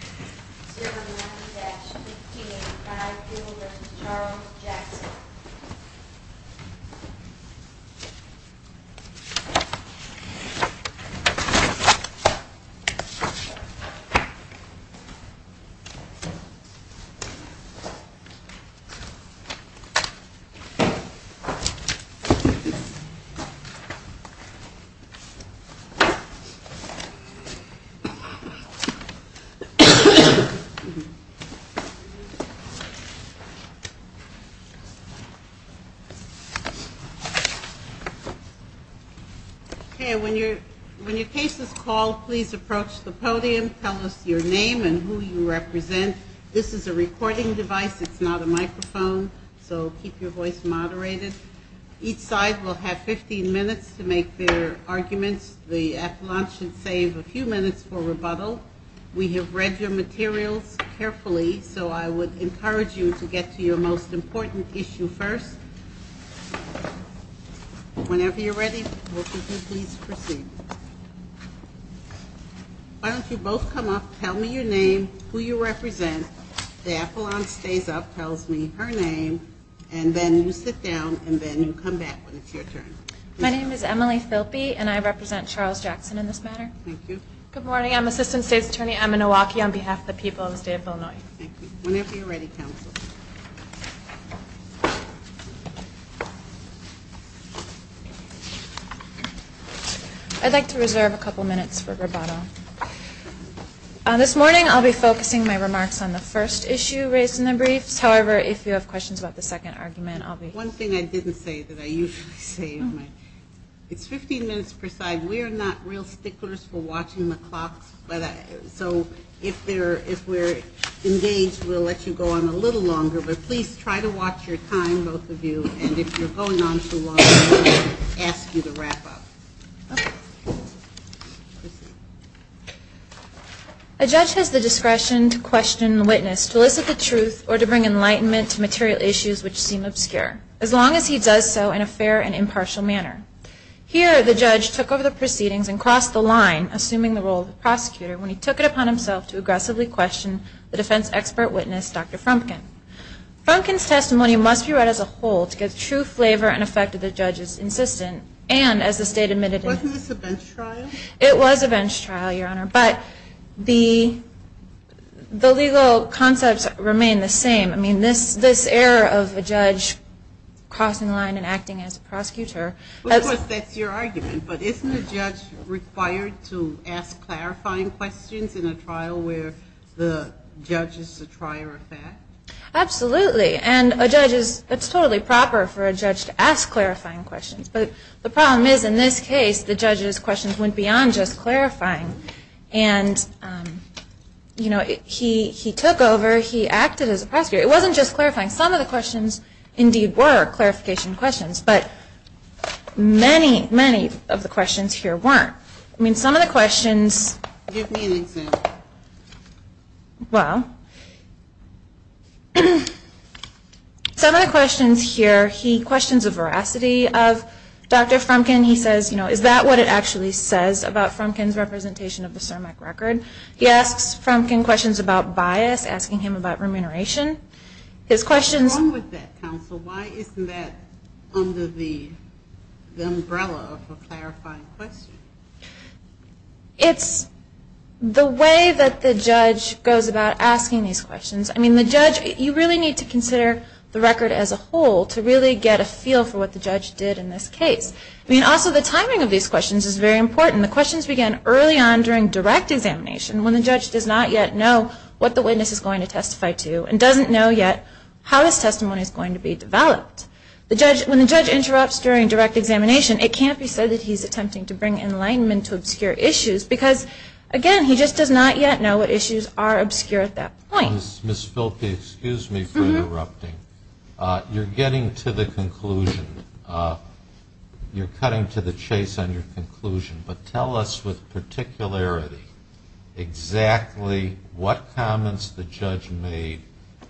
090-1585 Bill v. Charles Jackson When your case is called, please approach the podium. Tell us your name and who you represent. This is a recording device, it's not a microphone, so keep your voice moderated. Each side will have 15 minutes to make their arguments. The appellant should save a few minutes for rebuttal. We have read your materials carefully, so I would encourage you to get to your most important issue first. Whenever you're ready, we'll give you peace. Proceed. Why don't you both come up, tell me your name, who you represent. The appellant stays up, tells me her name, and then you sit down, and then you come back when it's your turn. My name is Emily Filpe, and I represent Charles Jackson in this matter. Good morning, I'm Assistant State's Attorney Emma Nowacki on behalf of the people of the state of Illinois. Whenever you're ready, counsel. I'd like to reserve a couple minutes for rebuttal. This morning I'll be focusing my remarks on the first issue raised in the briefs. However, if you have questions about the second argument, I'll be... One thing I didn't say that I usually say, it's 15 minutes per side. We're not real sticklers for watching the clocks, so if we're engaged, we'll let you go on a little longer, but please try to watch your time, both of you, and if you're going on too long, we'll ask you to wrap up. A judge has the discretion to question the witness, to elicit the truth, or to bring enlightenment to material issues which seem obscure, as long as he does so in a fair and impartial manner. Here, the judge took over the proceedings and crossed the line, assuming the role of the prosecutor, when he took it upon himself to aggressively question the defense expert witness, Dr. Frumkin. Frumkin's testimony must be read as a whole to get true flavor and effect of the judge's insistence, and as the state admitted... Wasn't this a bench trial? It was a bench trial, Your Honor, but the legal concepts remain the same. I mean, this error of a judge crossing the line and acting as a prosecutor... Absolutely, and it's totally proper for a judge to ask clarifying questions, but the problem is, in this case, the judge's questions went beyond just clarifying. And, you know, he took over, he acted as a prosecutor. It wasn't just clarifying. Some of the questions indeed were clarification questions, but many, many of the questions here weren't. Give me an example. Well, some of the questions here, he questions the veracity of Dr. Frumkin. He says, you know, is that what it actually says about Frumkin's representation of the CIRMAC record? He asks Frumkin questions about bias, asking him about remuneration. What's wrong with that, counsel? Why isn't that under the umbrella of a clarifying question? It's the way that the judge goes about asking these questions. I mean, the judge, you really need to consider the record as a whole to really get a feel for what the judge did in this case. I mean, also the timing of these questions is very important. The questions began early on during direct examination when the judge does not yet know what the witness is going to testify to and doesn't know yet how his testimony is going to be developed. When the judge interrupts during direct examination, it can't be said that he's attempting to bring enlightenment to obscure issues because, again, he just does not yet know what issues are obscure at that point. Ms. Filpe, excuse me for interrupting. You're getting to the conclusion. You're cutting to the chase on your conclusion, but tell us with particularity exactly what comments the judge made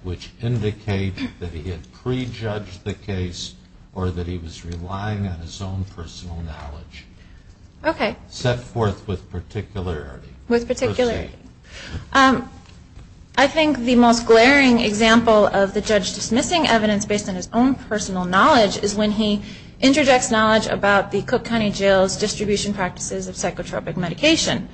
which indicate that he had prejudged the case or that he was relying on his own personal knowledge. Okay. Set forth with particularity. I think the most glaring example of the judge dismissing evidence based on his own personal knowledge is when he interjects knowledge about the Cook County Jail's distribution practices of psychotropic medication.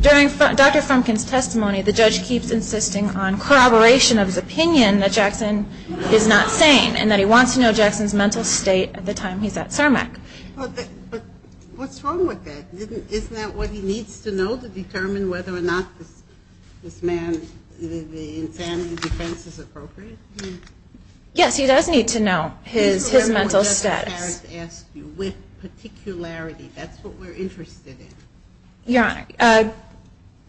During Dr. Frumkin's testimony, the judge keeps insisting on corroboration of his opinion that Jackson is not sane and that he wants to know Jackson's mental state at the time he's at CERMEC. But what's wrong with that? Isn't that what he needs to know to determine whether or not this man's insanity defense is appropriate? Yes, he does need to know his mental status. With particularity. That's what we're interested in. Your Honor,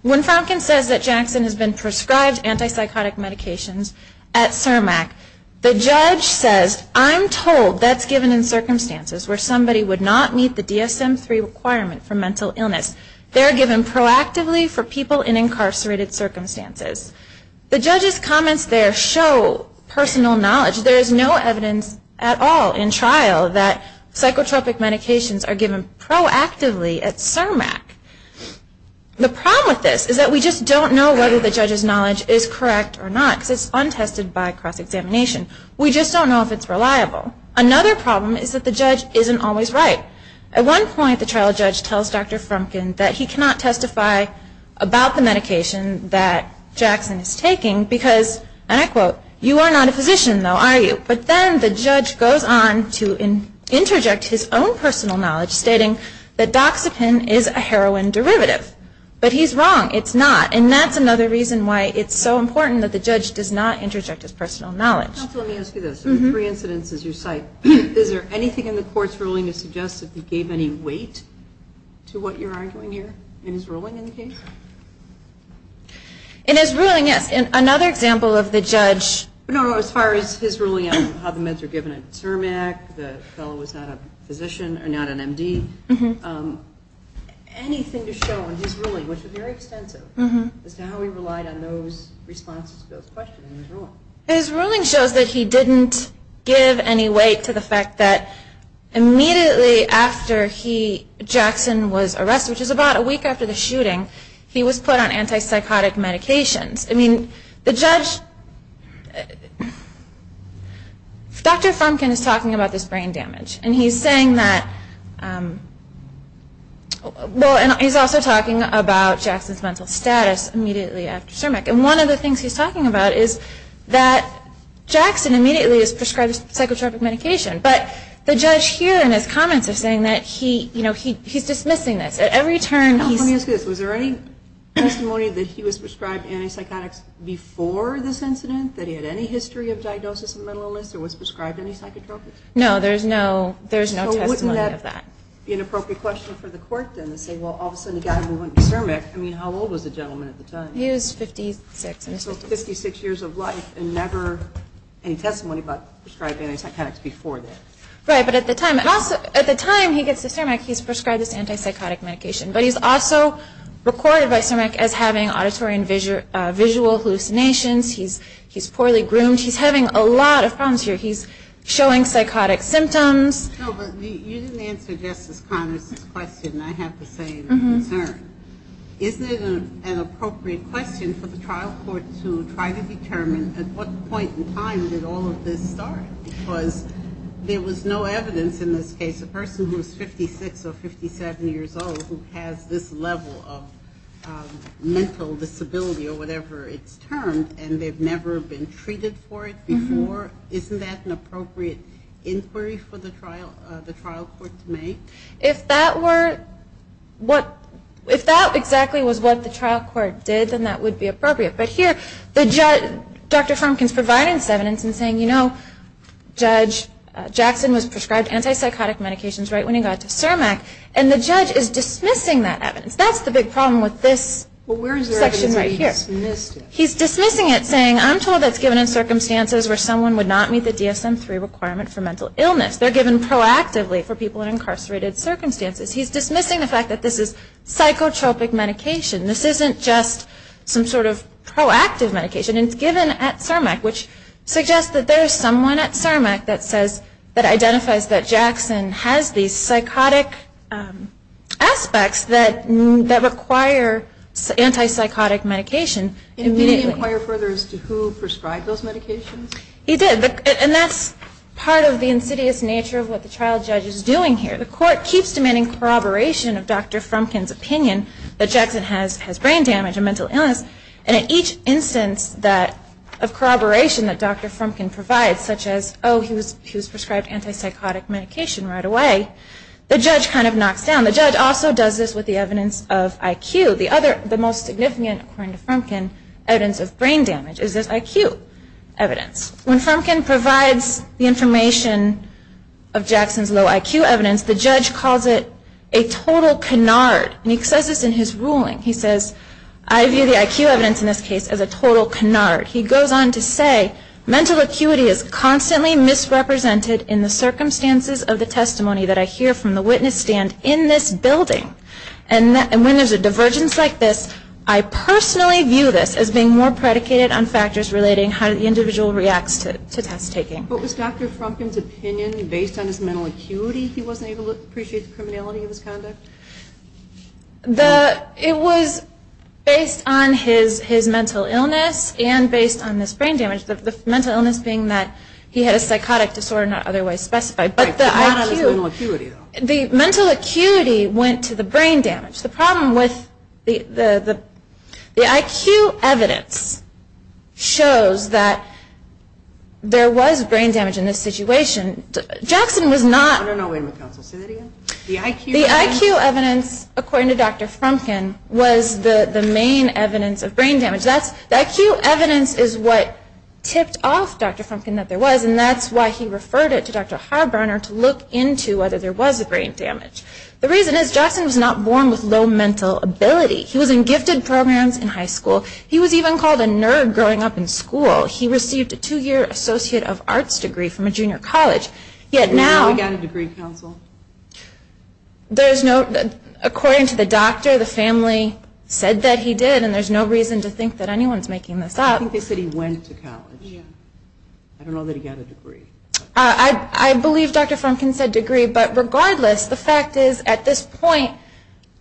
when Frumkin says that Jackson has been prescribed antipsychotic medications at CERMEC, the judge says, I'm told that's given in circumstances where somebody would not meet the DSM-3 requirement for mental illness. They're given proactively for people in incarcerated circumstances. The judge's comments there show personal knowledge. There is no evidence at all in trial that psychotropic medications are given proactively at CERMEC. The problem with this is that we just don't know whether the judge's knowledge is correct or not because it's untested by cross-examination. We just don't know if it's reliable. Another problem is that the judge isn't always right. At one point, the trial judge tells Dr. Frumkin that he cannot testify about the medication that Jackson is taking because, and I quote, you are not a physician, though, are you? But then the judge goes on to interject his own personal knowledge, stating that doxepin is a heroin derivative. But he's wrong. It's not. And that's another reason why it's so important that the judge does not interject his personal knowledge. Let me ask you this. Three incidents is your site. Is there anything in the court's ruling that suggests that he gave any weight to what you're arguing here in his ruling in the case? In his ruling, yes. In another example of the judge. No, as far as his ruling on how the meds are given at CERMEC, the fellow was not a physician or not an MD. Anything to show in his ruling, which was very extensive, as to how he relied on those responses to those questions in his ruling? His ruling shows that he didn't give any weight to the fact that immediately after he, Jackson, was arrested, which is about a week after the shooting, he was put on antipsychotic medications. I mean, the judge, Dr. Frumkin is talking about this brain damage. And he's saying that, well, and he's also talking about Jackson's mental status immediately after CERMEC. And one of the things he's talking about is that Jackson immediately is prescribed psychotropic medication. But the judge here in his comments is saying that he, you know, he's dismissing this. At every turn, he's – Let me ask you this. Was there any testimony that he was prescribed antipsychotics before this incident, that he had any history of diagnosis of mental illness, or was prescribed any psychotropics? No, there's no testimony of that. So wouldn't that be an appropriate question for the court, then, to say, well, all of a sudden, the guy moved on to CERMEC. I mean, how old was the gentleman at the time? He was 56. So 56 years of life, and never any testimony about prescribing antipsychotics before that. Right. But at the time he gets to CERMEC, he's prescribed this antipsychotic medication. But he's also recorded by CERMEC as having auditory and visual hallucinations. He's poorly groomed. He's having a lot of problems here. He's showing psychotic symptoms. No, but you didn't answer Justice Connors' question. I have to say, I'm concerned. Isn't it an appropriate question for the trial court to try to determine at what point in time did all of this start? Because there was no evidence in this case of a person who was 56 or 57 years old who has this level of mental disability, or whatever it's termed, and they've never been treated for it before. Isn't that an appropriate inquiry for the trial court to make? If that were what – if that exactly was what the trial court did, then that would be appropriate. But here, Dr. Frumkin's providing this evidence and saying, you know, Judge Jackson was prescribed antipsychotic medications right when he got to CERMEC, and the judge is dismissing that evidence. That's the big problem with this section right here. Well, where is the evidence that he dismissed it? He's dismissing it, saying, I'm told that's given in circumstances where someone would not meet the DSM-III requirement for mental illness. They're given proactively for people in incarcerated circumstances. He's dismissing the fact that this is psychotropic medication. This isn't just some sort of proactive medication. It's given at CERMEC, which suggests that there is someone at CERMEC that says – that identifies that Jackson has these psychotic aspects that require antipsychotic medication. Did he inquire further as to who prescribed those medications? He did. And that's part of the insidious nature of what the trial judge is doing here. The court keeps demanding corroboration of Dr. Frumkin's opinion that Jackson has brain damage and mental illness, and in each instance of corroboration that Dr. Frumkin provides, such as, oh, he was prescribed antipsychotic medication right away, the judge kind of knocks down. The judge also does this with the evidence of IQ. The most significant, according to Frumkin, evidence of brain damage is his IQ evidence. When Frumkin provides the information of Jackson's low IQ evidence, the judge calls it a total canard. And he says this in his ruling. He says, I view the IQ evidence in this case as a total canard. He goes on to say, mental acuity is constantly misrepresented in the circumstances of the testimony that I hear from the witness stand in this building. And when there's a divergence like this, I personally view this as being more predicated on factors relating how the individual reacts to test taking. What was Dr. Frumkin's opinion based on his mental acuity? He wasn't able to appreciate the criminality of his conduct? It was based on his mental illness and based on his brain damage. The mental illness being that he had a psychotic disorder not otherwise specified. Right, but not on his mental acuity, though. The mental acuity went to the brain damage. The problem with the IQ evidence shows that there was brain damage in this situation. Jackson was not... I don't know, wait a minute, counsel, say that again. The IQ evidence, according to Dr. Frumkin, was the main evidence of brain damage. The IQ evidence is what tipped off Dr. Frumkin that there was, and that's why he referred it to Dr. Harburner to look into whether there was a brain damage. The reason is Jackson was not born with low mental ability. He was in gifted programs in high school. He was even called a nerd growing up in school. He received a two-year Associate of Arts degree from a junior college. Yet now... We got a degree, counsel. There's no... According to the doctor, the family said that he did, and there's no reason to think that anyone's making this up. I think they said he went to college. I don't know that he got a degree. I believe Dr. Frumkin said degree, but regardless, the fact is, at this point,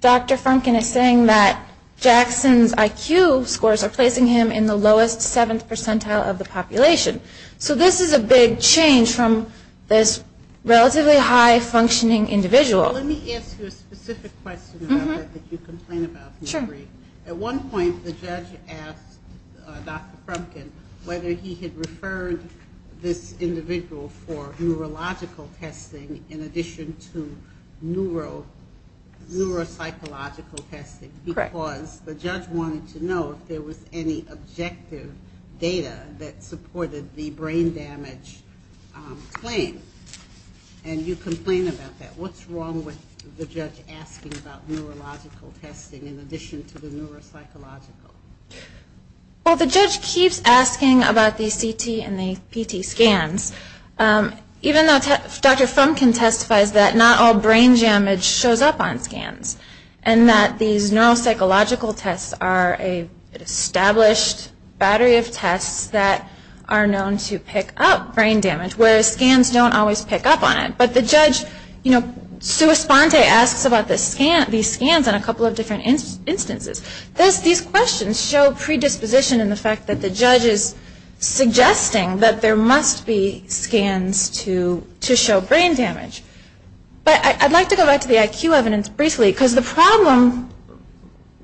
Dr. Frumkin is saying that Jackson's IQ scores are placing him in the lowest 7th percentile of the population. So this is a big change from this relatively high-functioning individual. Let me ask you a specific question about that that you complain about. Sure. At one point, the judge asked Dr. Frumkin whether he had referred this individual for neurological testing in addition to neuropsychological testing. Correct. Because the judge wanted to know if there was any objective data that supported the brain damage claim. And you complain about that. What's wrong with the judge asking about neurological testing in addition to the neuropsychological? Well, the judge keeps asking about the CT and the PT scans, even though Dr. Frumkin testifies that not all brain damage shows up on scans and that these neuropsychological tests are an established battery of tests that are known to pick up brain damage, whereas scans don't always pick up on it. But the judge, you know, sua sponte asks about these scans on a couple of different instances. These questions show predisposition in the fact that the judge is suggesting that there must be scans to show brain damage. But I'd like to go back to the IQ evidence briefly because the problem,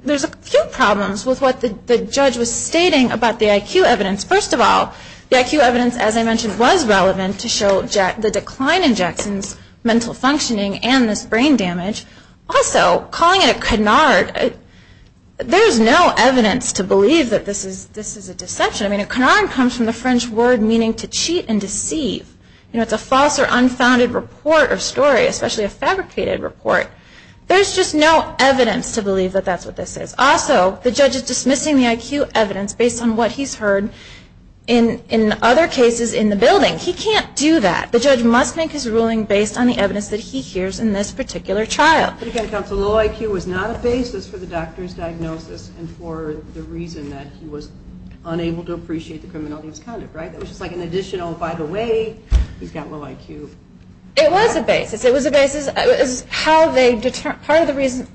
there's a few problems with what the judge was stating about the IQ evidence. First of all, the IQ evidence, as I mentioned, was relevant to show the decline in Jackson's mental functioning and this brain damage. Also, calling it a canard, there's no evidence to believe that this is a deception. I mean, a canard comes from the French word meaning to cheat and deceive. You know, it's a false or unfounded report or story, especially a fabricated report. There's just no evidence to believe that that's what this is. Also, the judge is dismissing the IQ evidence based on what he's heard in other cases in the building. He can't do that. The judge must make his ruling based on the evidence that he hears in this particular trial. But again, counsel, low IQ was not a basis for the doctor's diagnosis and for the reason that he was unable to appreciate the criminality of his conduct, right? It was just like an additional, by the way, he's got low IQ. It was a basis. It was a basis. It was how they determined, part of the reason,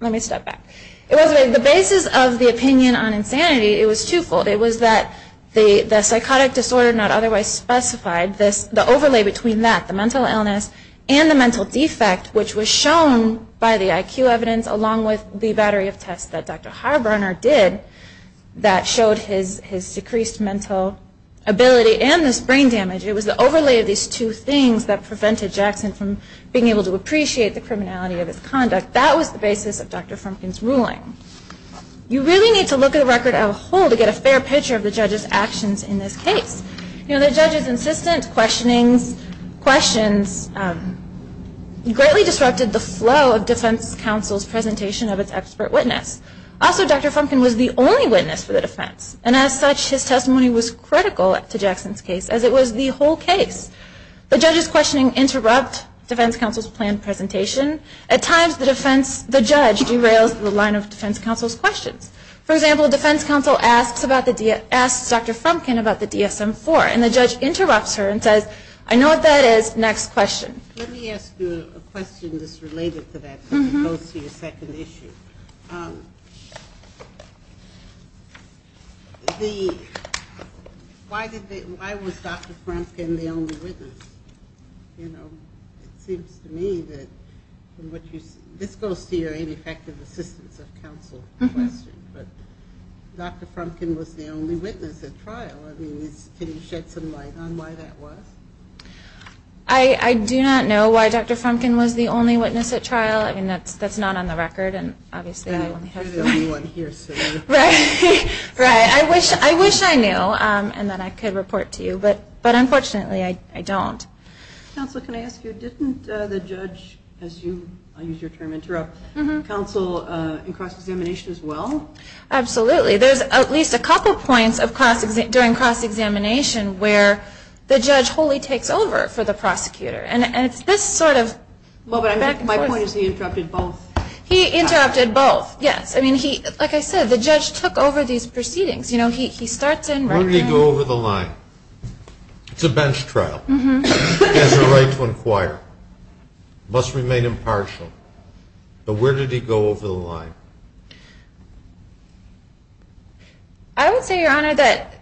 let me step back. It wasn't the basis of the opinion on insanity. It was twofold. It was that the psychotic disorder not otherwise specified, the overlay between that, the mental illness and the mental defect, which was shown by the IQ evidence along with the battery of tests that Dr. Harburner did that showed his decreased mental ability and his brain damage. It was the overlay of these two things that prevented Jackson from being able to appreciate the criminality of his conduct. That was the basis of Dr. Frumkin's ruling. You really need to look at the record as a whole to get a fair picture of the judge's actions in this case. You know, the judge's insistent questionings, questions, greatly disrupted the flow of defense counsel's presentation of its expert witness. Also, Dr. Frumkin was the only witness for the defense and as such his testimony was critical to Jackson's case as it was the whole case. The judge's questioning interrupt defense counsel's planned presentation. At times the judge derails the line of defense counsel's questions. For example, defense counsel asks Dr. Frumkin about the DSM-IV and the judge interrupts her and says, I know what that is, next question. Let me ask you a question that's related to that. It goes to your second issue. Why was Dr. Frumkin the only witness? You know, it seems to me that this goes to your ineffective assistance of counsel question, but Dr. Frumkin was the only witness at trial. I mean, can you shed some light on why that was? I do not know why Dr. Frumkin was the only witness at trial. I mean, that's not on the record and obviously you only have one. There will be one here soon. Right. Right. I wish I knew and then I could report to you. But unfortunately I don't. Counsel, can I ask you, didn't the judge, as you use your term interrupt, counsel in cross-examination as well? Absolutely. There's at least a couple points during cross-examination where the judge wholly takes over for the prosecutor. And it's this sort of back and forth. My point is he interrupted both. He interrupted both, yes. I mean, like I said, the judge took over these proceedings. You know, he starts in right now. Where did he go over the line? It's a bench trial. He has a right to inquire. He must remain impartial. But where did he go over the line? I would say, Your Honor, that,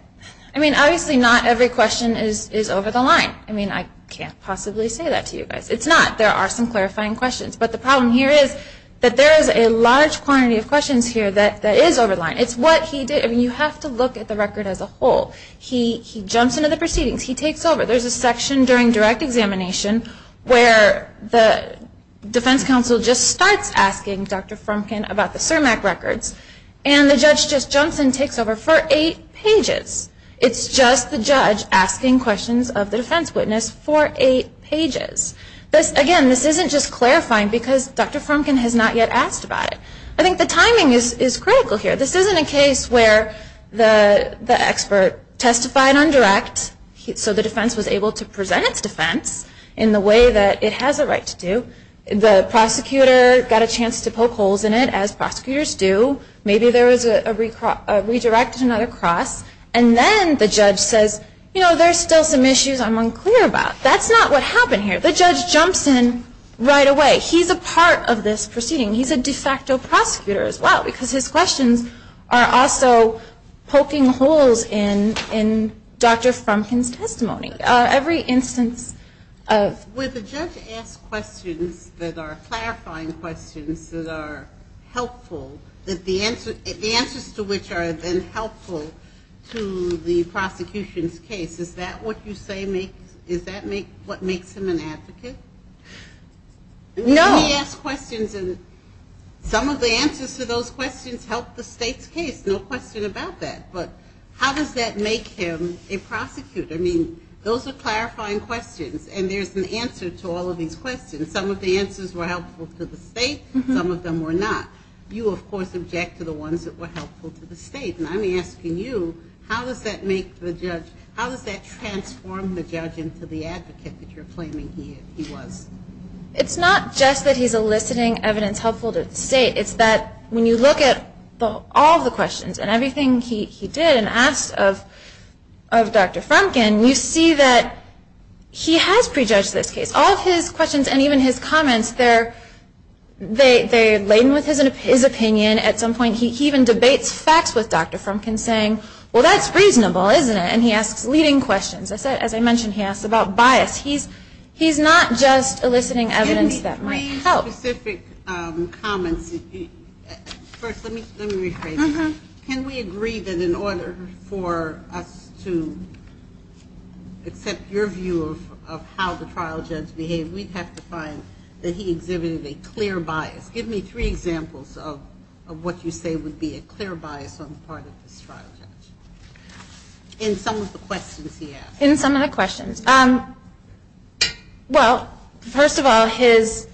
I mean, obviously not every question is over the line. I mean, I can't possibly say that to you guys. It's not. There are some clarifying questions. But the problem here is that there is a large quantity of questions here that is over the line. It's what he did. I mean, you have to look at the record as a whole. He jumps into the proceedings. He takes over. There's a section during direct examination where the defense counsel just starts asking Dr. Frumkin about the CIRMAC records. And the judge just jumps and takes over for eight pages. It's just the judge asking questions of the defense witness for eight pages. Again, this isn't just clarifying because Dr. Frumkin has not yet asked about it. I think the timing is critical here. This isn't a case where the expert testified on direct, so the defense was able to present its defense in the way that it has a right to do. The prosecutor got a chance to poke holes in it, as prosecutors do. Maybe there was a redirect to another cross. And then the judge says, you know, there's still some issues I'm unclear about. That's not what happened here. The judge jumps in right away. He's a part of this proceeding. He's a de facto prosecutor as well because his questions are also poking holes in Dr. Frumkin's testimony. Every instance of ‑‑ With the judge asked questions that are clarifying questions that are helpful, the answers to which are then helpful to the prosecution's case, is that what you say makes ‑‑ is that what makes him an advocate? No. He asks questions and some of the answers to those questions help the state's case. No question about that. But how does that make him a prosecutor? I mean, those are clarifying questions, and there's an answer to all of these questions. Some of the answers were helpful to the state. Some of them were not. You, of course, object to the ones that were helpful to the state. And I'm asking you, how does that make the judge ‑‑ how does that transform the judge into the advocate that you're claiming he was? It's not just that he's eliciting evidence helpful to the state. It's that when you look at all of the questions and everything he did and asked of Dr. Frumkin, you see that he has prejudged this case. All of his questions and even his comments, they're laden with his opinion. At some point he even debates facts with Dr. Frumkin, saying, well, that's reasonable, isn't it? And he asks leading questions. As I mentioned, he asks about bias. He's not just eliciting evidence that might help. Can we agree on specific comments? First, let me rephrase that. Can we agree that in order for us to accept your view of how the trial judge behaved, we'd have to find that he exhibited a clear bias? Give me three examples of what you say would be a clear bias on the part of this trial judge in some of the questions he asked. In some of the questions. Well, first of all, his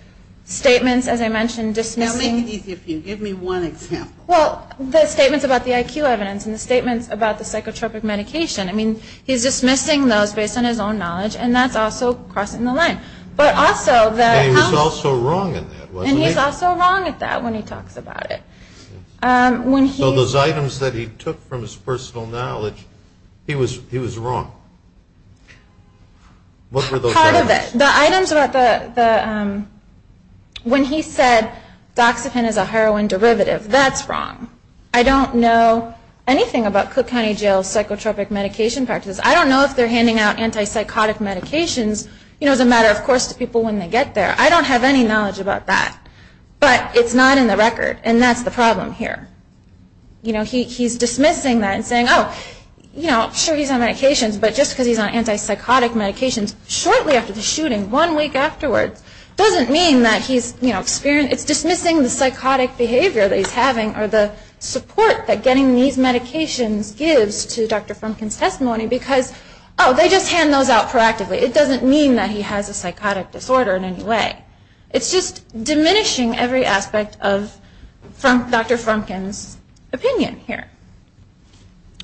statements, as I mentioned, dismissing. I'll make it easy for you. Give me one example. Well, the statements about the IQ evidence and the statements about the psychotropic medication. I mean, he's dismissing those based on his own knowledge, and that's also crossing the line. And he was also wrong in that, wasn't he? And he's also wrong at that when he talks about it. So those items that he took from his personal knowledge, he was wrong. What were those items? When he said doxepin is a heroin derivative, that's wrong. I don't know anything about Cook County Jail's psychotropic medication practice. I don't know if they're handing out antipsychotic medications, you know, as a matter of course to people when they get there. I don't have any knowledge about that. But it's not in the record, and that's the problem here. You know, he's dismissing that and saying, oh, you know, sure he's on medications, but just because he's on antipsychotic medications shortly after the shooting, one week afterwards, doesn't mean that he's, you know, experiencing, it's dismissing the psychotic behavior that he's having or the support that getting these medications gives to Dr. Frumkin's testimony because, oh, they just hand those out proactively. It doesn't mean that he has a psychotic disorder in any way. It's just diminishing every aspect of Dr. Frumkin's opinion here.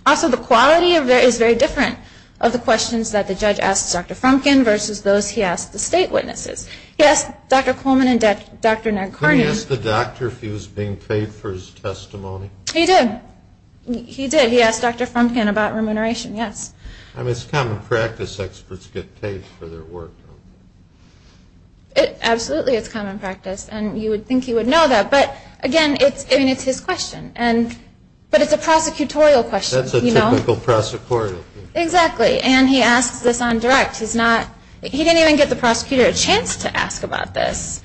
Also, the quality of it is very different of the questions that the judge asked Dr. Frumkin versus those he asked the state witnesses. He asked Dr. Coleman and Dr. Nick Carney. Did he ask the doctor if he was being paid for his testimony? He did. He did. He asked Dr. Frumkin about remuneration, yes. I mean, it's common practice experts get paid for their work. Absolutely, it's common practice. And you would think he would know that. But, again, it's his question. But it's a prosecutorial question. That's a typical prosecutorial question. Exactly. And he asks this on direct. He didn't even get the prosecutor a chance to ask about this.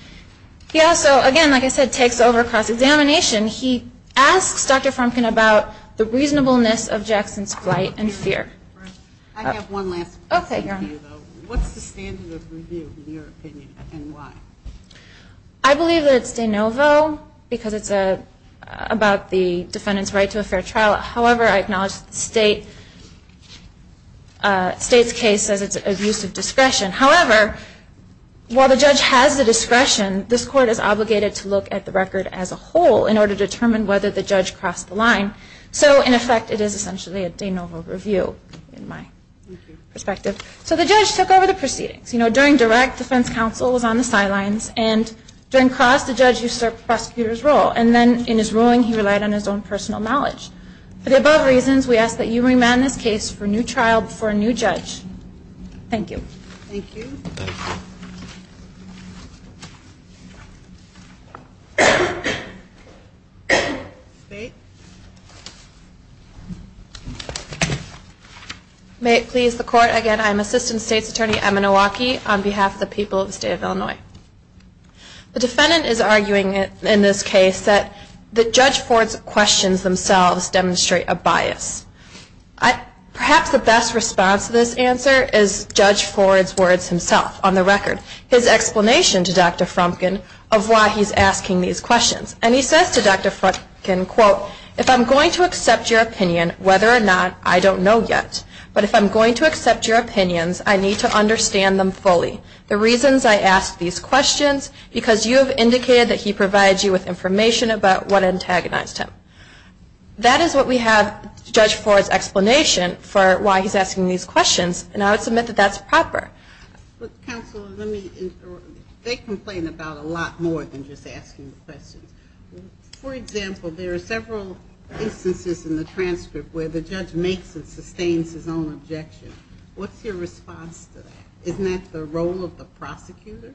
He also, again, like I said, takes over cross-examination. He asks Dr. Frumkin about the reasonableness of Jackson's flight and fear. I have one last one. Okay. What's the standard of review, in your opinion, and why? I believe that it's de novo because it's about the defendant's right to a fair trial. However, I acknowledge the state's case says it's abuse of discretion. However, while the judge has the discretion, this court is obligated to look at the record as a whole in order to determine whether the judge crossed the line. So, in effect, it is essentially a de novo review in my perspective. So the judge took over the proceedings. During direct, defense counsel was on the sidelines. And during cross, the judge used the prosecutor's role. And then, in his ruling, he relied on his own personal knowledge. For the above reasons, we ask that you remand this case for a new trial before a new judge. Thank you. Thank you. May it please the court. Again, I'm Assistant State's Attorney Emma Nowacki on behalf of the people of the state of Illinois. The defendant is arguing in this case that Judge Ford's questions themselves demonstrate a bias. Perhaps the best response to this answer is Judge Ford's words himself on the record. His explanation to Dr. Frumkin of why he's asking these questions. And he says to Dr. Frumkin, quote, if I'm going to accept your opinion, whether or not, I don't know yet. But if I'm going to accept your opinions, I need to understand them fully. The reasons I ask these questions, because you have indicated that he provides you with information about what antagonized him. That is what we have, Judge Ford's explanation, for why he's asking these questions. And I would submit that that's proper. Counsel, they complain about a lot more than just asking the questions. For example, there are several instances in the transcript where the judge makes and sustains his own objection. What's your response to that? Isn't that the role of the prosecutor?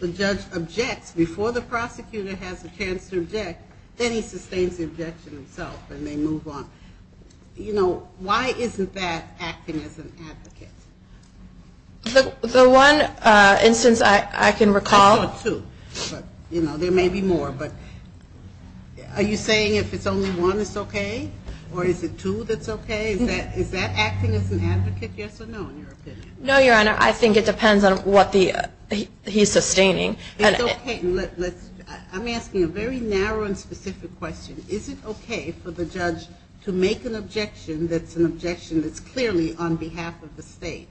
The judge objects before the prosecutor has a chance to object. Then he sustains the objection himself and they move on. You know, why isn't that acting as an advocate? The one instance I can recall. There may be more, but are you saying if it's only one it's okay? Or is it two that's okay? Is that acting as an advocate, yes or no, in your opinion? No, Your Honor. I think it depends on what he's sustaining. It's okay. I'm asking a very narrow and specific question. Is it okay for the judge to make an objection that's an objection that's clearly on behalf of the state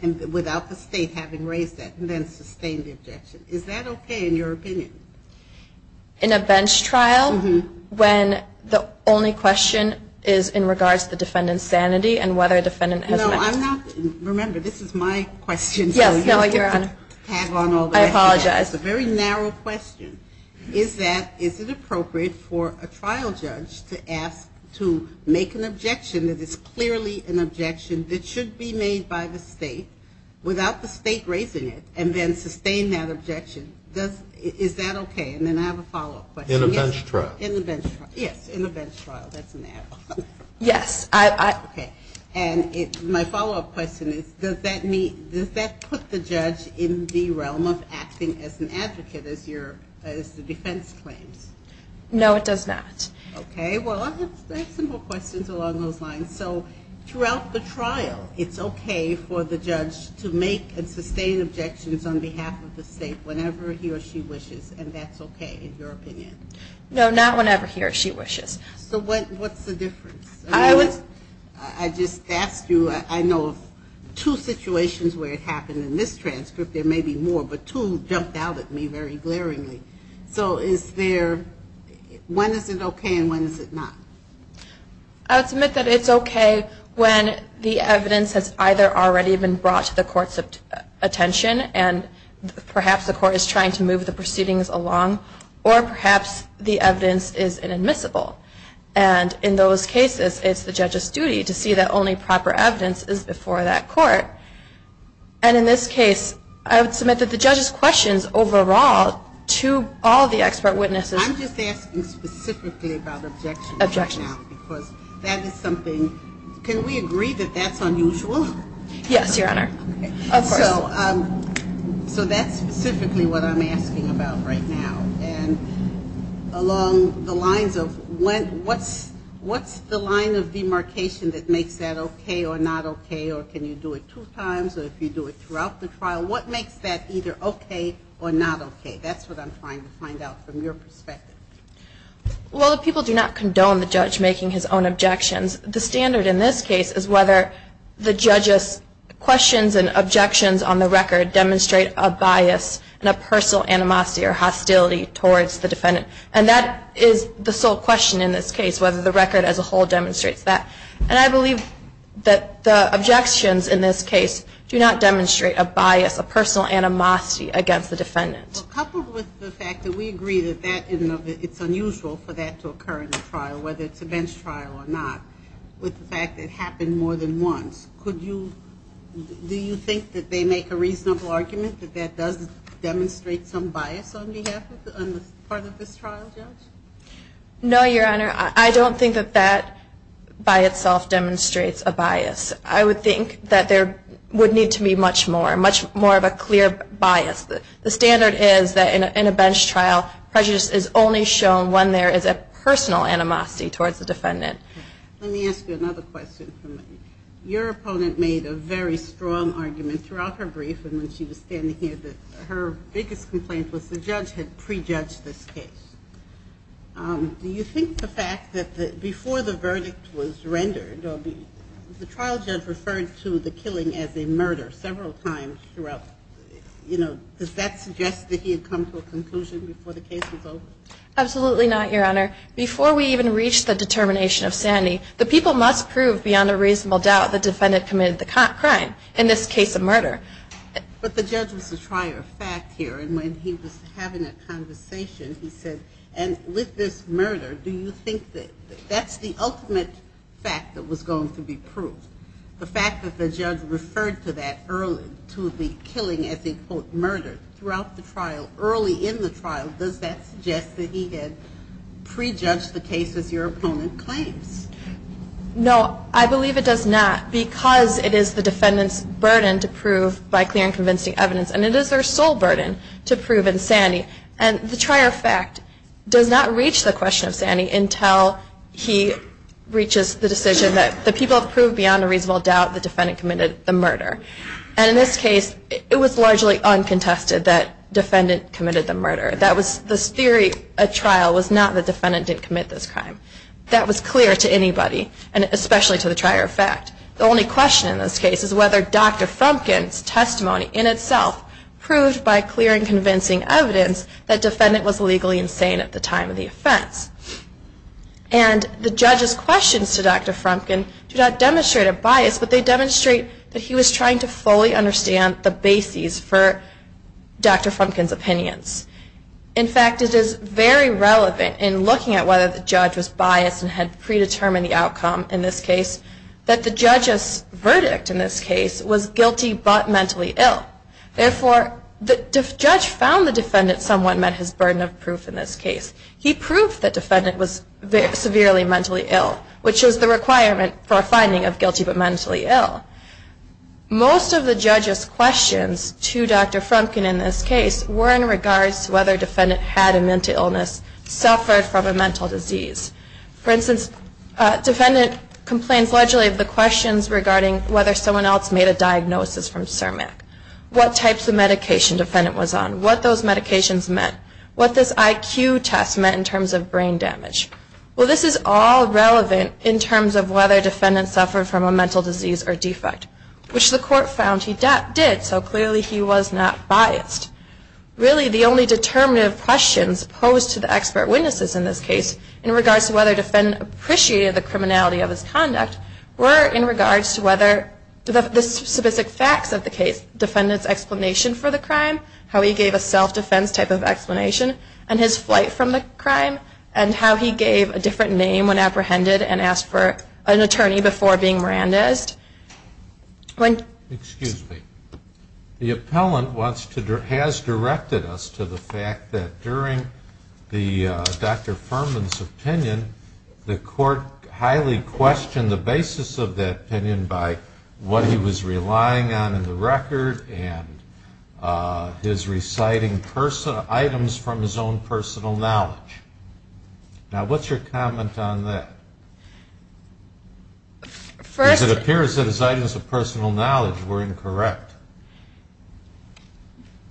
and without the state having raised that and then sustain the objection? Is that okay in your opinion? In a bench trial, when the only question is in regards to the defendant's sanity and whether a defendant has met. No, I'm not. Remember, this is my question. Yes, no, Your Honor. I apologize. It's a very narrow question. Is it appropriate for a trial judge to ask to make an objection that is clearly an objection that should be made by the state without the state raising it and then sustain that objection? Is that okay? And then I have a follow-up question. In a bench trial. In a bench trial, yes, in a bench trial. That's an ad hoc. Yes. Okay. And my follow-up question is does that put the judge in the realm of acting as an advocate, as the defense claims? No, it does not. Okay. Well, I have some more questions along those lines. So throughout the trial, it's okay for the judge to make and sustain objections on behalf of the state whenever he or she wishes, and that's okay in your opinion? No, not whenever he or she wishes. So what's the difference? I just asked you. I know of two situations where it happened in this transcript. There may be more, but two jumped out at me very glaringly. So is there, when is it okay and when is it not? I would submit that it's okay when the evidence has either already been brought to the court's attention and perhaps the court is trying to move the proceedings along, or perhaps the evidence is inadmissible. And in those cases, it's the judge's duty to see that only proper evidence is before that court. And in this case, I would submit that the judge's questions overall to all of the expert witnesses. I'm just asking specifically about objections right now because that is something. Can we agree that that's unusual? Yes, Your Honor. Of course. So that's specifically what I'm asking about right now. And along the lines of what's the line of demarcation that makes that okay or not okay or can you do it two times or if you do it throughout the trial, what makes that either okay or not okay? That's what I'm trying to find out from your perspective. Well, the people do not condone the judge making his own objections. The standard in this case is whether the judge's questions and objections on the record demonstrate a bias and a personal animosity or hostility towards the defendant. And that is the sole question in this case, whether the record as a whole demonstrates that. And I believe that the objections in this case do not demonstrate a bias, a personal animosity against the defendant. Coupled with the fact that we agree that it's unusual for that to occur in the trial, whether it's a bench trial or not, with the fact that it happened more than once, do you think that they make a reasonable argument that that does demonstrate some bias on the part of this trial, Judge? No, Your Honor. I don't think that that by itself demonstrates a bias. I would think that there would need to be much more, much more of a clear bias. The standard is that in a bench trial prejudice is only shown when there is a personal animosity towards the defendant. Let me ask you another question. Your opponent made a very strong argument throughout her brief and when she was standing here that her biggest complaint was the judge had prejudged this case. Do you think the fact that before the verdict was rendered, the trial judge referred to the killing as a murder several times throughout, you know, does that suggest that he had come to a conclusion before the case was over? Absolutely not, Your Honor. Before we even reached the determination of sanity, the people must prove beyond a reasonable doubt the defendant committed the crime, in this case a murder. But the judge was a trier of fact here, and when he was having a conversation, he said, and with this murder, do you think that that's the ultimate fact that was going to be proved? The fact that the judge referred to that early, to the killing as a, quote, murder, throughout the trial, early in the trial, does that suggest that he had prejudged the case as your opponent claims? No, I believe it does not. Because it is the defendant's burden to prove by clear and convincing evidence, and it is their sole burden to prove insanity, and the trier of fact does not reach the question of sanity until he reaches the decision that the people have proved beyond a reasonable doubt the defendant committed the murder. And in this case, it was largely uncontested that defendant committed the murder. That was the theory at trial was not that defendant didn't commit this crime. That was clear to anybody, and especially to the trier of fact. The only question in this case is whether Dr. Frumkin's testimony in itself proved by clear and convincing evidence that defendant was legally insane at the time of the offense. And the judge's questions to Dr. Frumkin do not demonstrate a bias, but they demonstrate that he was trying to fully understand the bases for Dr. Frumkin's opinions. In fact, it is very relevant in looking at whether the judge was biased and had predetermined the outcome in this case, that the judge's verdict in this case was guilty but mentally ill. Therefore, the judge found the defendant somewhat met his burden of proof in this case. He proved that defendant was severely mentally ill, which is the requirement for a finding of guilty but mentally ill. Most of the judge's questions to Dr. Frumkin in this case were in regards to whether defendant had a mental illness, suffered from a mental disease. For instance, defendant complains largely of the questions regarding whether someone else made a diagnosis from Cermak. What types of medication defendant was on, what those medications meant, what this IQ test meant in terms of brain damage. Well, this is all relevant in terms of whether defendant suffered from a mental disease or defect, which the court found he did, so clearly he was not biased. Really, the only determinative questions posed to the expert witnesses in this case in regards to whether defendant appreciated the criminality of his conduct were in regards to whether the specific facts of the case, defendant's explanation for the crime, how he gave a self-defense type of explanation, and his flight from the crime, and how he gave a different name when apprehended and asked for an attorney before being Mirandized. Excuse me. The appellant has directed us to the fact that during Dr. Furman's opinion, the court highly questioned the basis of that opinion by what he was relying on in the record and his reciting items from his own personal knowledge. Now, what's your comment on that? First... Because it appears that his items of personal knowledge were incorrect.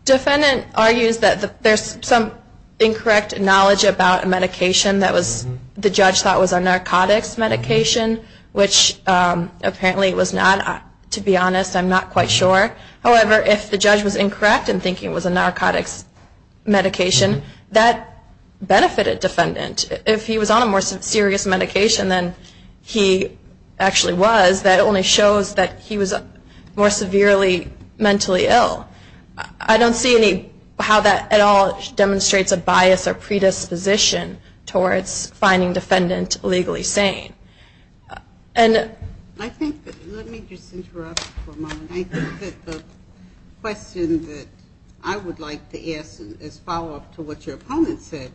Defendant argues that there's some incorrect knowledge about a medication that the judge thought was a narcotics medication, which apparently it was not. To be honest, I'm not quite sure. However, if the judge was incorrect in thinking it was a narcotics medication, that benefited defendant. If he was on a more serious medication than he actually was, that only shows that he was more severely mentally ill. I don't see how that at all demonstrates a bias or predisposition towards finding defendant legally sane. Let me just interrupt for a moment. I think that the question that I would like to ask as follow-up to what your opponent said,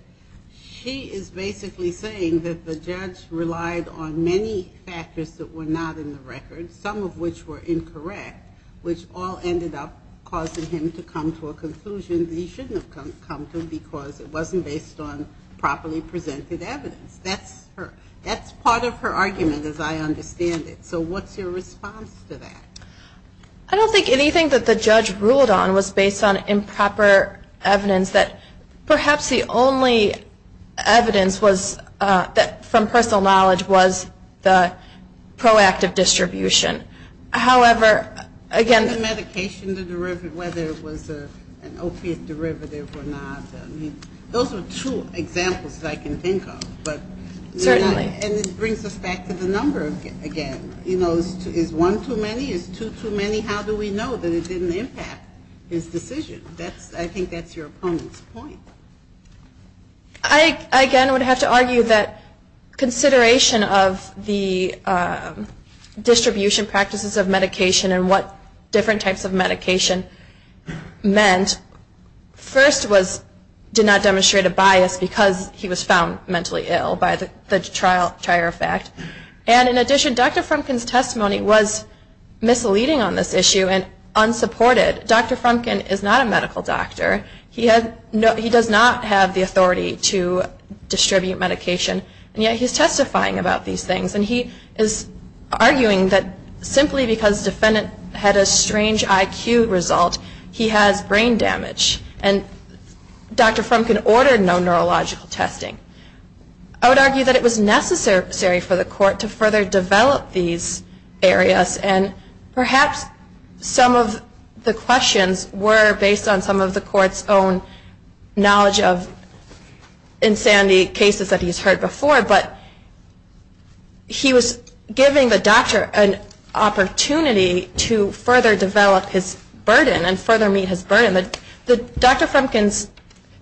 she is basically saying that the judge relied on many factors that were not in the record, some of which were incorrect, which all ended up causing him to come to a conclusion that he shouldn't have come to because it wasn't based on properly presented evidence. That's part of her argument, as I understand it. So what's your response to that? I don't think anything that the judge ruled on was based on improper evidence. Perhaps the only evidence from personal knowledge was the proactive distribution. However, again the medication, whether it was an opiate derivative or not, those are two examples that I can think of. Certainly. And this brings us back to the number again. Is one too many? Is two too many? How do we know that it didn't impact his decision? I think that's your opponent's point. I again would have to argue that consideration of the distribution practices of medication and what different types of medication meant, first was did not demonstrate a bias because he was found mentally ill by the trier effect. And in addition, Dr. Frumkin's testimony was misleading on this issue and unsupported. Dr. Frumkin is not a medical doctor. He does not have the authority to distribute medication, and yet he's testifying about these things. And he is arguing that simply because the defendant had a strange IQ result, he has brain damage. And Dr. Frumkin ordered no neurological testing. I would argue that it was necessary for the court to further develop these areas, and perhaps some of the questions were based on some of the court's own knowledge of insanity cases that he's heard before. But he was giving the doctor an opportunity to further develop his burden and further meet his burden. But Dr. Frumkin's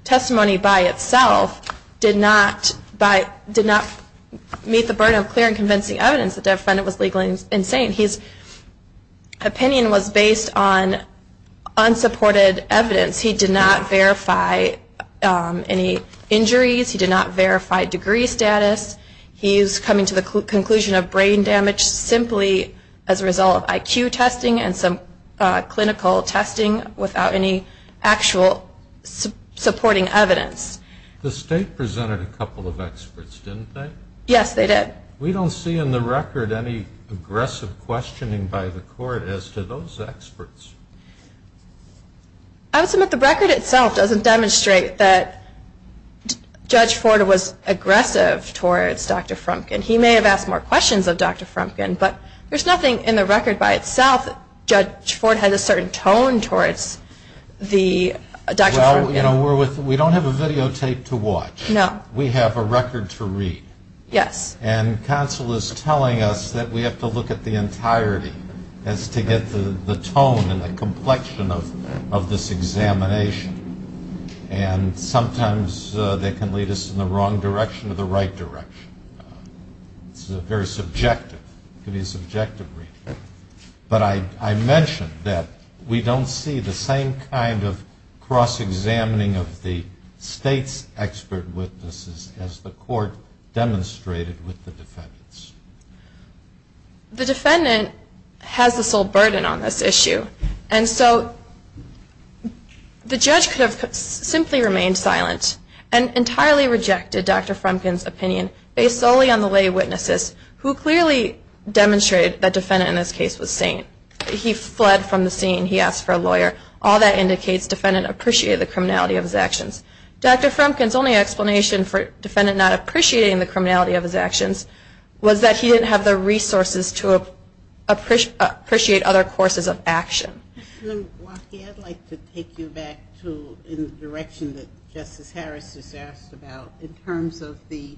testimony by itself did not meet the burden of clear and convincing evidence the defendant was legally insane. His opinion was based on unsupported evidence. He did not verify any injuries. He did not verify degree status. He is coming to the conclusion of brain damage simply as a result of IQ testing and some clinical testing without any actual supporting evidence. The state presented a couple of experts, didn't they? Yes, they did. We don't see in the record any aggressive questioning by the court as to those experts. I would submit the record itself doesn't demonstrate that Judge Ford was aggressive towards Dr. Frumkin. He may have asked more questions of Dr. Frumkin, but there's nothing in the record by itself that Judge Ford had a certain tone towards Dr. Frumkin. Well, you know, we don't have a videotape to watch. No. We have a record to read. Yes. And counsel is telling us that we have to look at the entirety as to get the tone and the complexion of this examination. And sometimes that can lead us in the wrong direction or the right direction. It's very subjective. It can be a subjective reading. But I mentioned that we don't see the same kind of cross-examining of the state's expert witnesses as the court demonstrated with the defendants. The defendant has the sole burden on this issue. And so the judge could have simply remained silent and entirely rejected Dr. Frumkin's opinion based solely on the lay witnesses who clearly demonstrated that the defendant in this case was sane. He fled from the scene. He asked for a lawyer. All that indicates the defendant appreciated the criminality of his actions. Dr. Frumkin's only explanation for the defendant not appreciating the criminality of his actions was that he didn't have the resources to appreciate other courses of action. Waukee, I'd like to take you back to the direction that Justice Harris has asked about in terms of the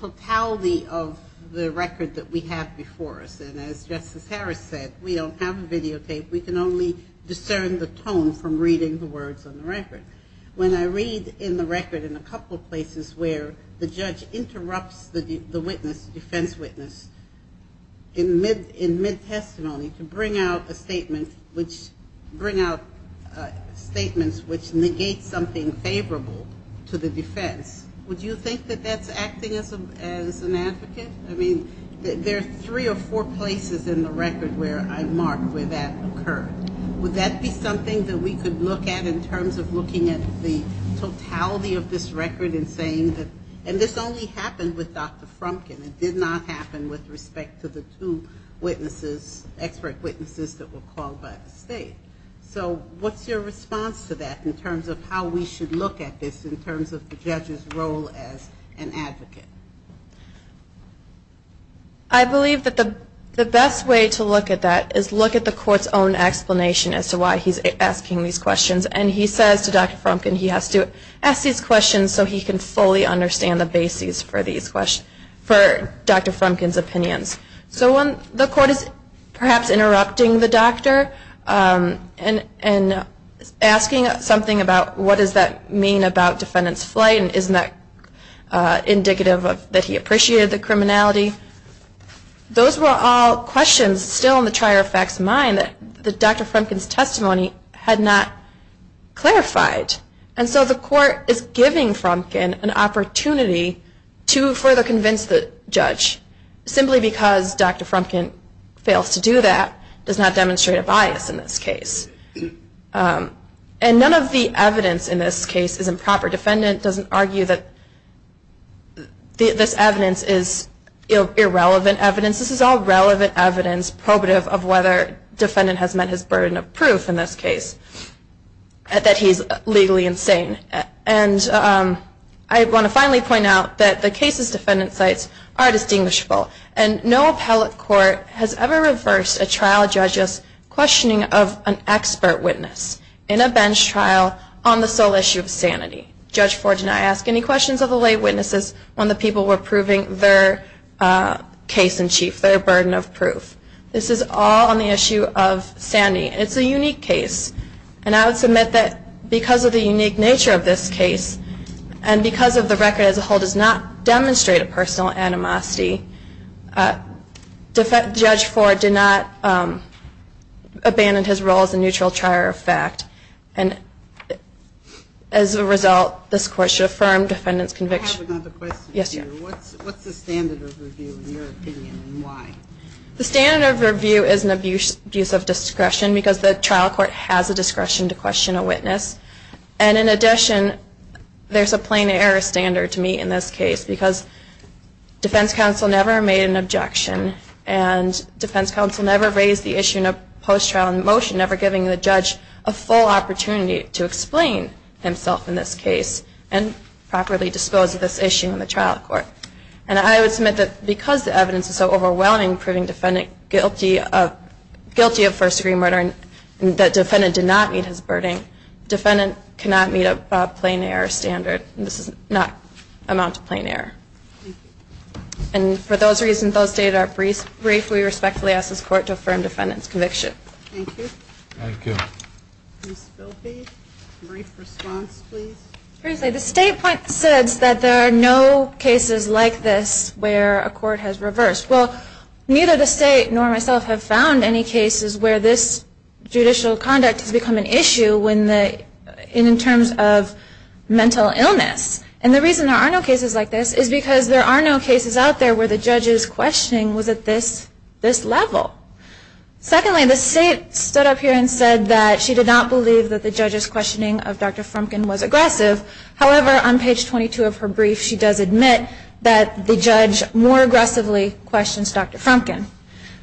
totality of the record that we have before us. And as Justice Harris said, we don't have a videotape. We can only discern the tone from reading the words on the record. When I read in the record in a couple of places where the judge interrupts the witness, the defense witness, in mid-testimony to bring out a statement, which bring out statements which negate something favorable to the defense, would you think that that's acting as an advocate? I mean, there are three or four places in the record where I mark where that occurred. Would that be something that we could look at in terms of looking at the totality of this record and saying that, and this only happened with Dr. Frumkin. It did not happen with respect to the two witnesses, expert witnesses that were called by the state. So what's your response to that in terms of how we should look at this in terms of the judge's role as an advocate? I believe that the best way to look at that is look at the court's own explanation as to why he's asking these questions. And he says to Dr. Frumkin he has to ask these questions so he can fully understand the basis for Dr. Frumkin's opinions. So when the court is perhaps interrupting the doctor and asking something about what does that mean about defendant's flight, and isn't that indicative that he appreciated the criminality, those were all questions still in the trier of facts mind that Dr. Frumkin's testimony had not clarified. And so the court is giving Frumkin an opportunity to further convince the judge. Simply because Dr. Frumkin fails to do that does not demonstrate a bias in this case. And none of the evidence in this case is improper. Defendant doesn't argue that this evidence is irrelevant evidence. This is all relevant evidence probative of whether defendant has met his burden of proof in this case, that he's legally insane. And I want to finally point out that the case's defendant sites are distinguishable. And no appellate court has ever reversed a trial judge's questioning of an expert witness in a bench trial on the sole issue of sanity. Judge Ford did not ask any questions of the lay witnesses when the people were proving their case in chief, their burden of proof. This is all on the issue of sanity. It's a unique case. And I would submit that because of the unique nature of this case, and because of the record as a whole does not demonstrate a personal animosity, Judge Ford did not abandon his role as a neutral trier of fact. And as a result, this court should affirm defendant's conviction. I have another question for you. What's the standard of review in your opinion, and why? The standard of review is an abuse of discretion because the trial court has the discretion to question a witness. And in addition, there's a plain error standard to meet in this case because defense counsel never made an objection, and defense counsel never raised the issue in a post-trial motion, never giving the judge a full opportunity to explain himself in this case and properly dispose of this issue in the trial court. And I would submit that because the evidence is so overwhelming, proving defendant guilty of first-degree murder, and that defendant did not meet his burden, defendant cannot meet a plain error standard. This is not amount to plain error. And for those reasons, those data are brief. We respectfully ask this court to affirm defendant's conviction. Thank you. Thank you. Ms. Spilby, brief response, please. Firstly, the statement says that there are no cases like this where a court has reversed. Well, neither the state nor myself have found any cases where this judicial conduct has become an issue in terms of mental illness. And the reason there are no cases like this is because there are no cases out there where the judge's questioning was at this level. Secondly, the state stood up here and said that she did not believe that the judge's questioning of Dr. Frumkin was aggressive. However, on page 22 of her brief, she does admit that the judge more aggressively questions Dr. Frumkin.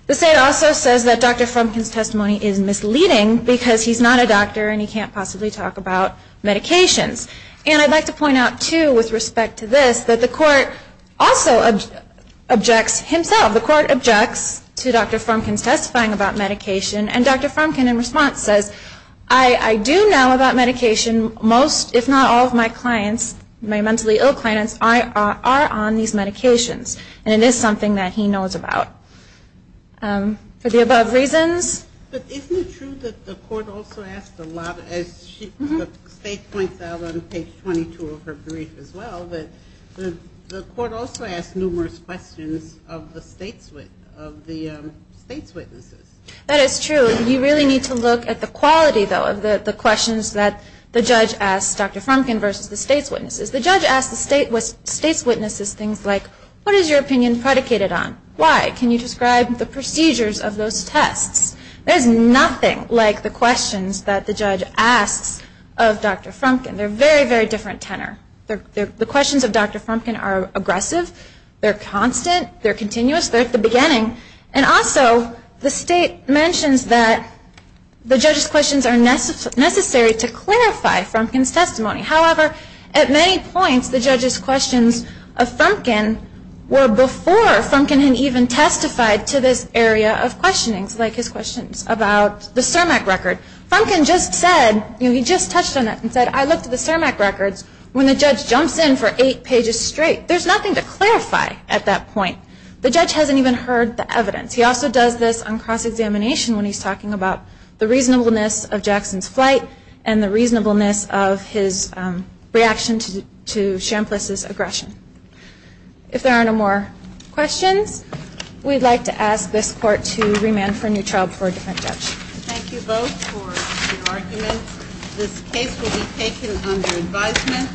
The state also says that Dr. Frumkin's testimony is misleading because he's not a doctor and he can't possibly talk about medications. And I'd like to point out, too, with respect to this, that the court also objects himself. The court objects to Dr. Frumkin's testifying about medication, and Dr. Frumkin, in response, says, I do know about medication. Most, if not all, of my clients, my mentally ill clients, are on these medications, and it is something that he knows about. For the above reasons. But isn't it true that the court also asked a lot of, as the state points out on page 22 of her brief as well, that the court also asked numerous questions of the state's witnesses? That is true. You really need to look at the quality, though, of the questions that the judge asks Dr. Frumkin versus the state's witnesses. The judge asks the state's witnesses things like, what is your opinion predicated on? Why? Can you describe the procedures of those tests? There's nothing like the questions that the judge asks of Dr. Frumkin. They're a very, very different tenor. The questions of Dr. Frumkin are aggressive. They're constant. They're continuous. They're at the beginning. And also, the state mentions that the judge's questions are necessary to clarify Frumkin's testimony. However, at many points, the judge's questions of Frumkin were before Frumkin had even testified to this area of questionings, like his questions about the CIRMAC record. Frumkin just said, he just touched on that and said, I looked at the CIRMAC records. When the judge jumps in for eight pages straight, there's nothing to clarify at that point. The judge hasn't even heard the evidence. He also does this on cross-examination when he's talking about the reasonableness of Jackson's flight and the reasonableness of his reaction to Champliss's aggression. If there are no more questions, we'd like to ask this court to remand for a new trial before a different judge. Thank you both for your arguments. This case will be taken under advisement.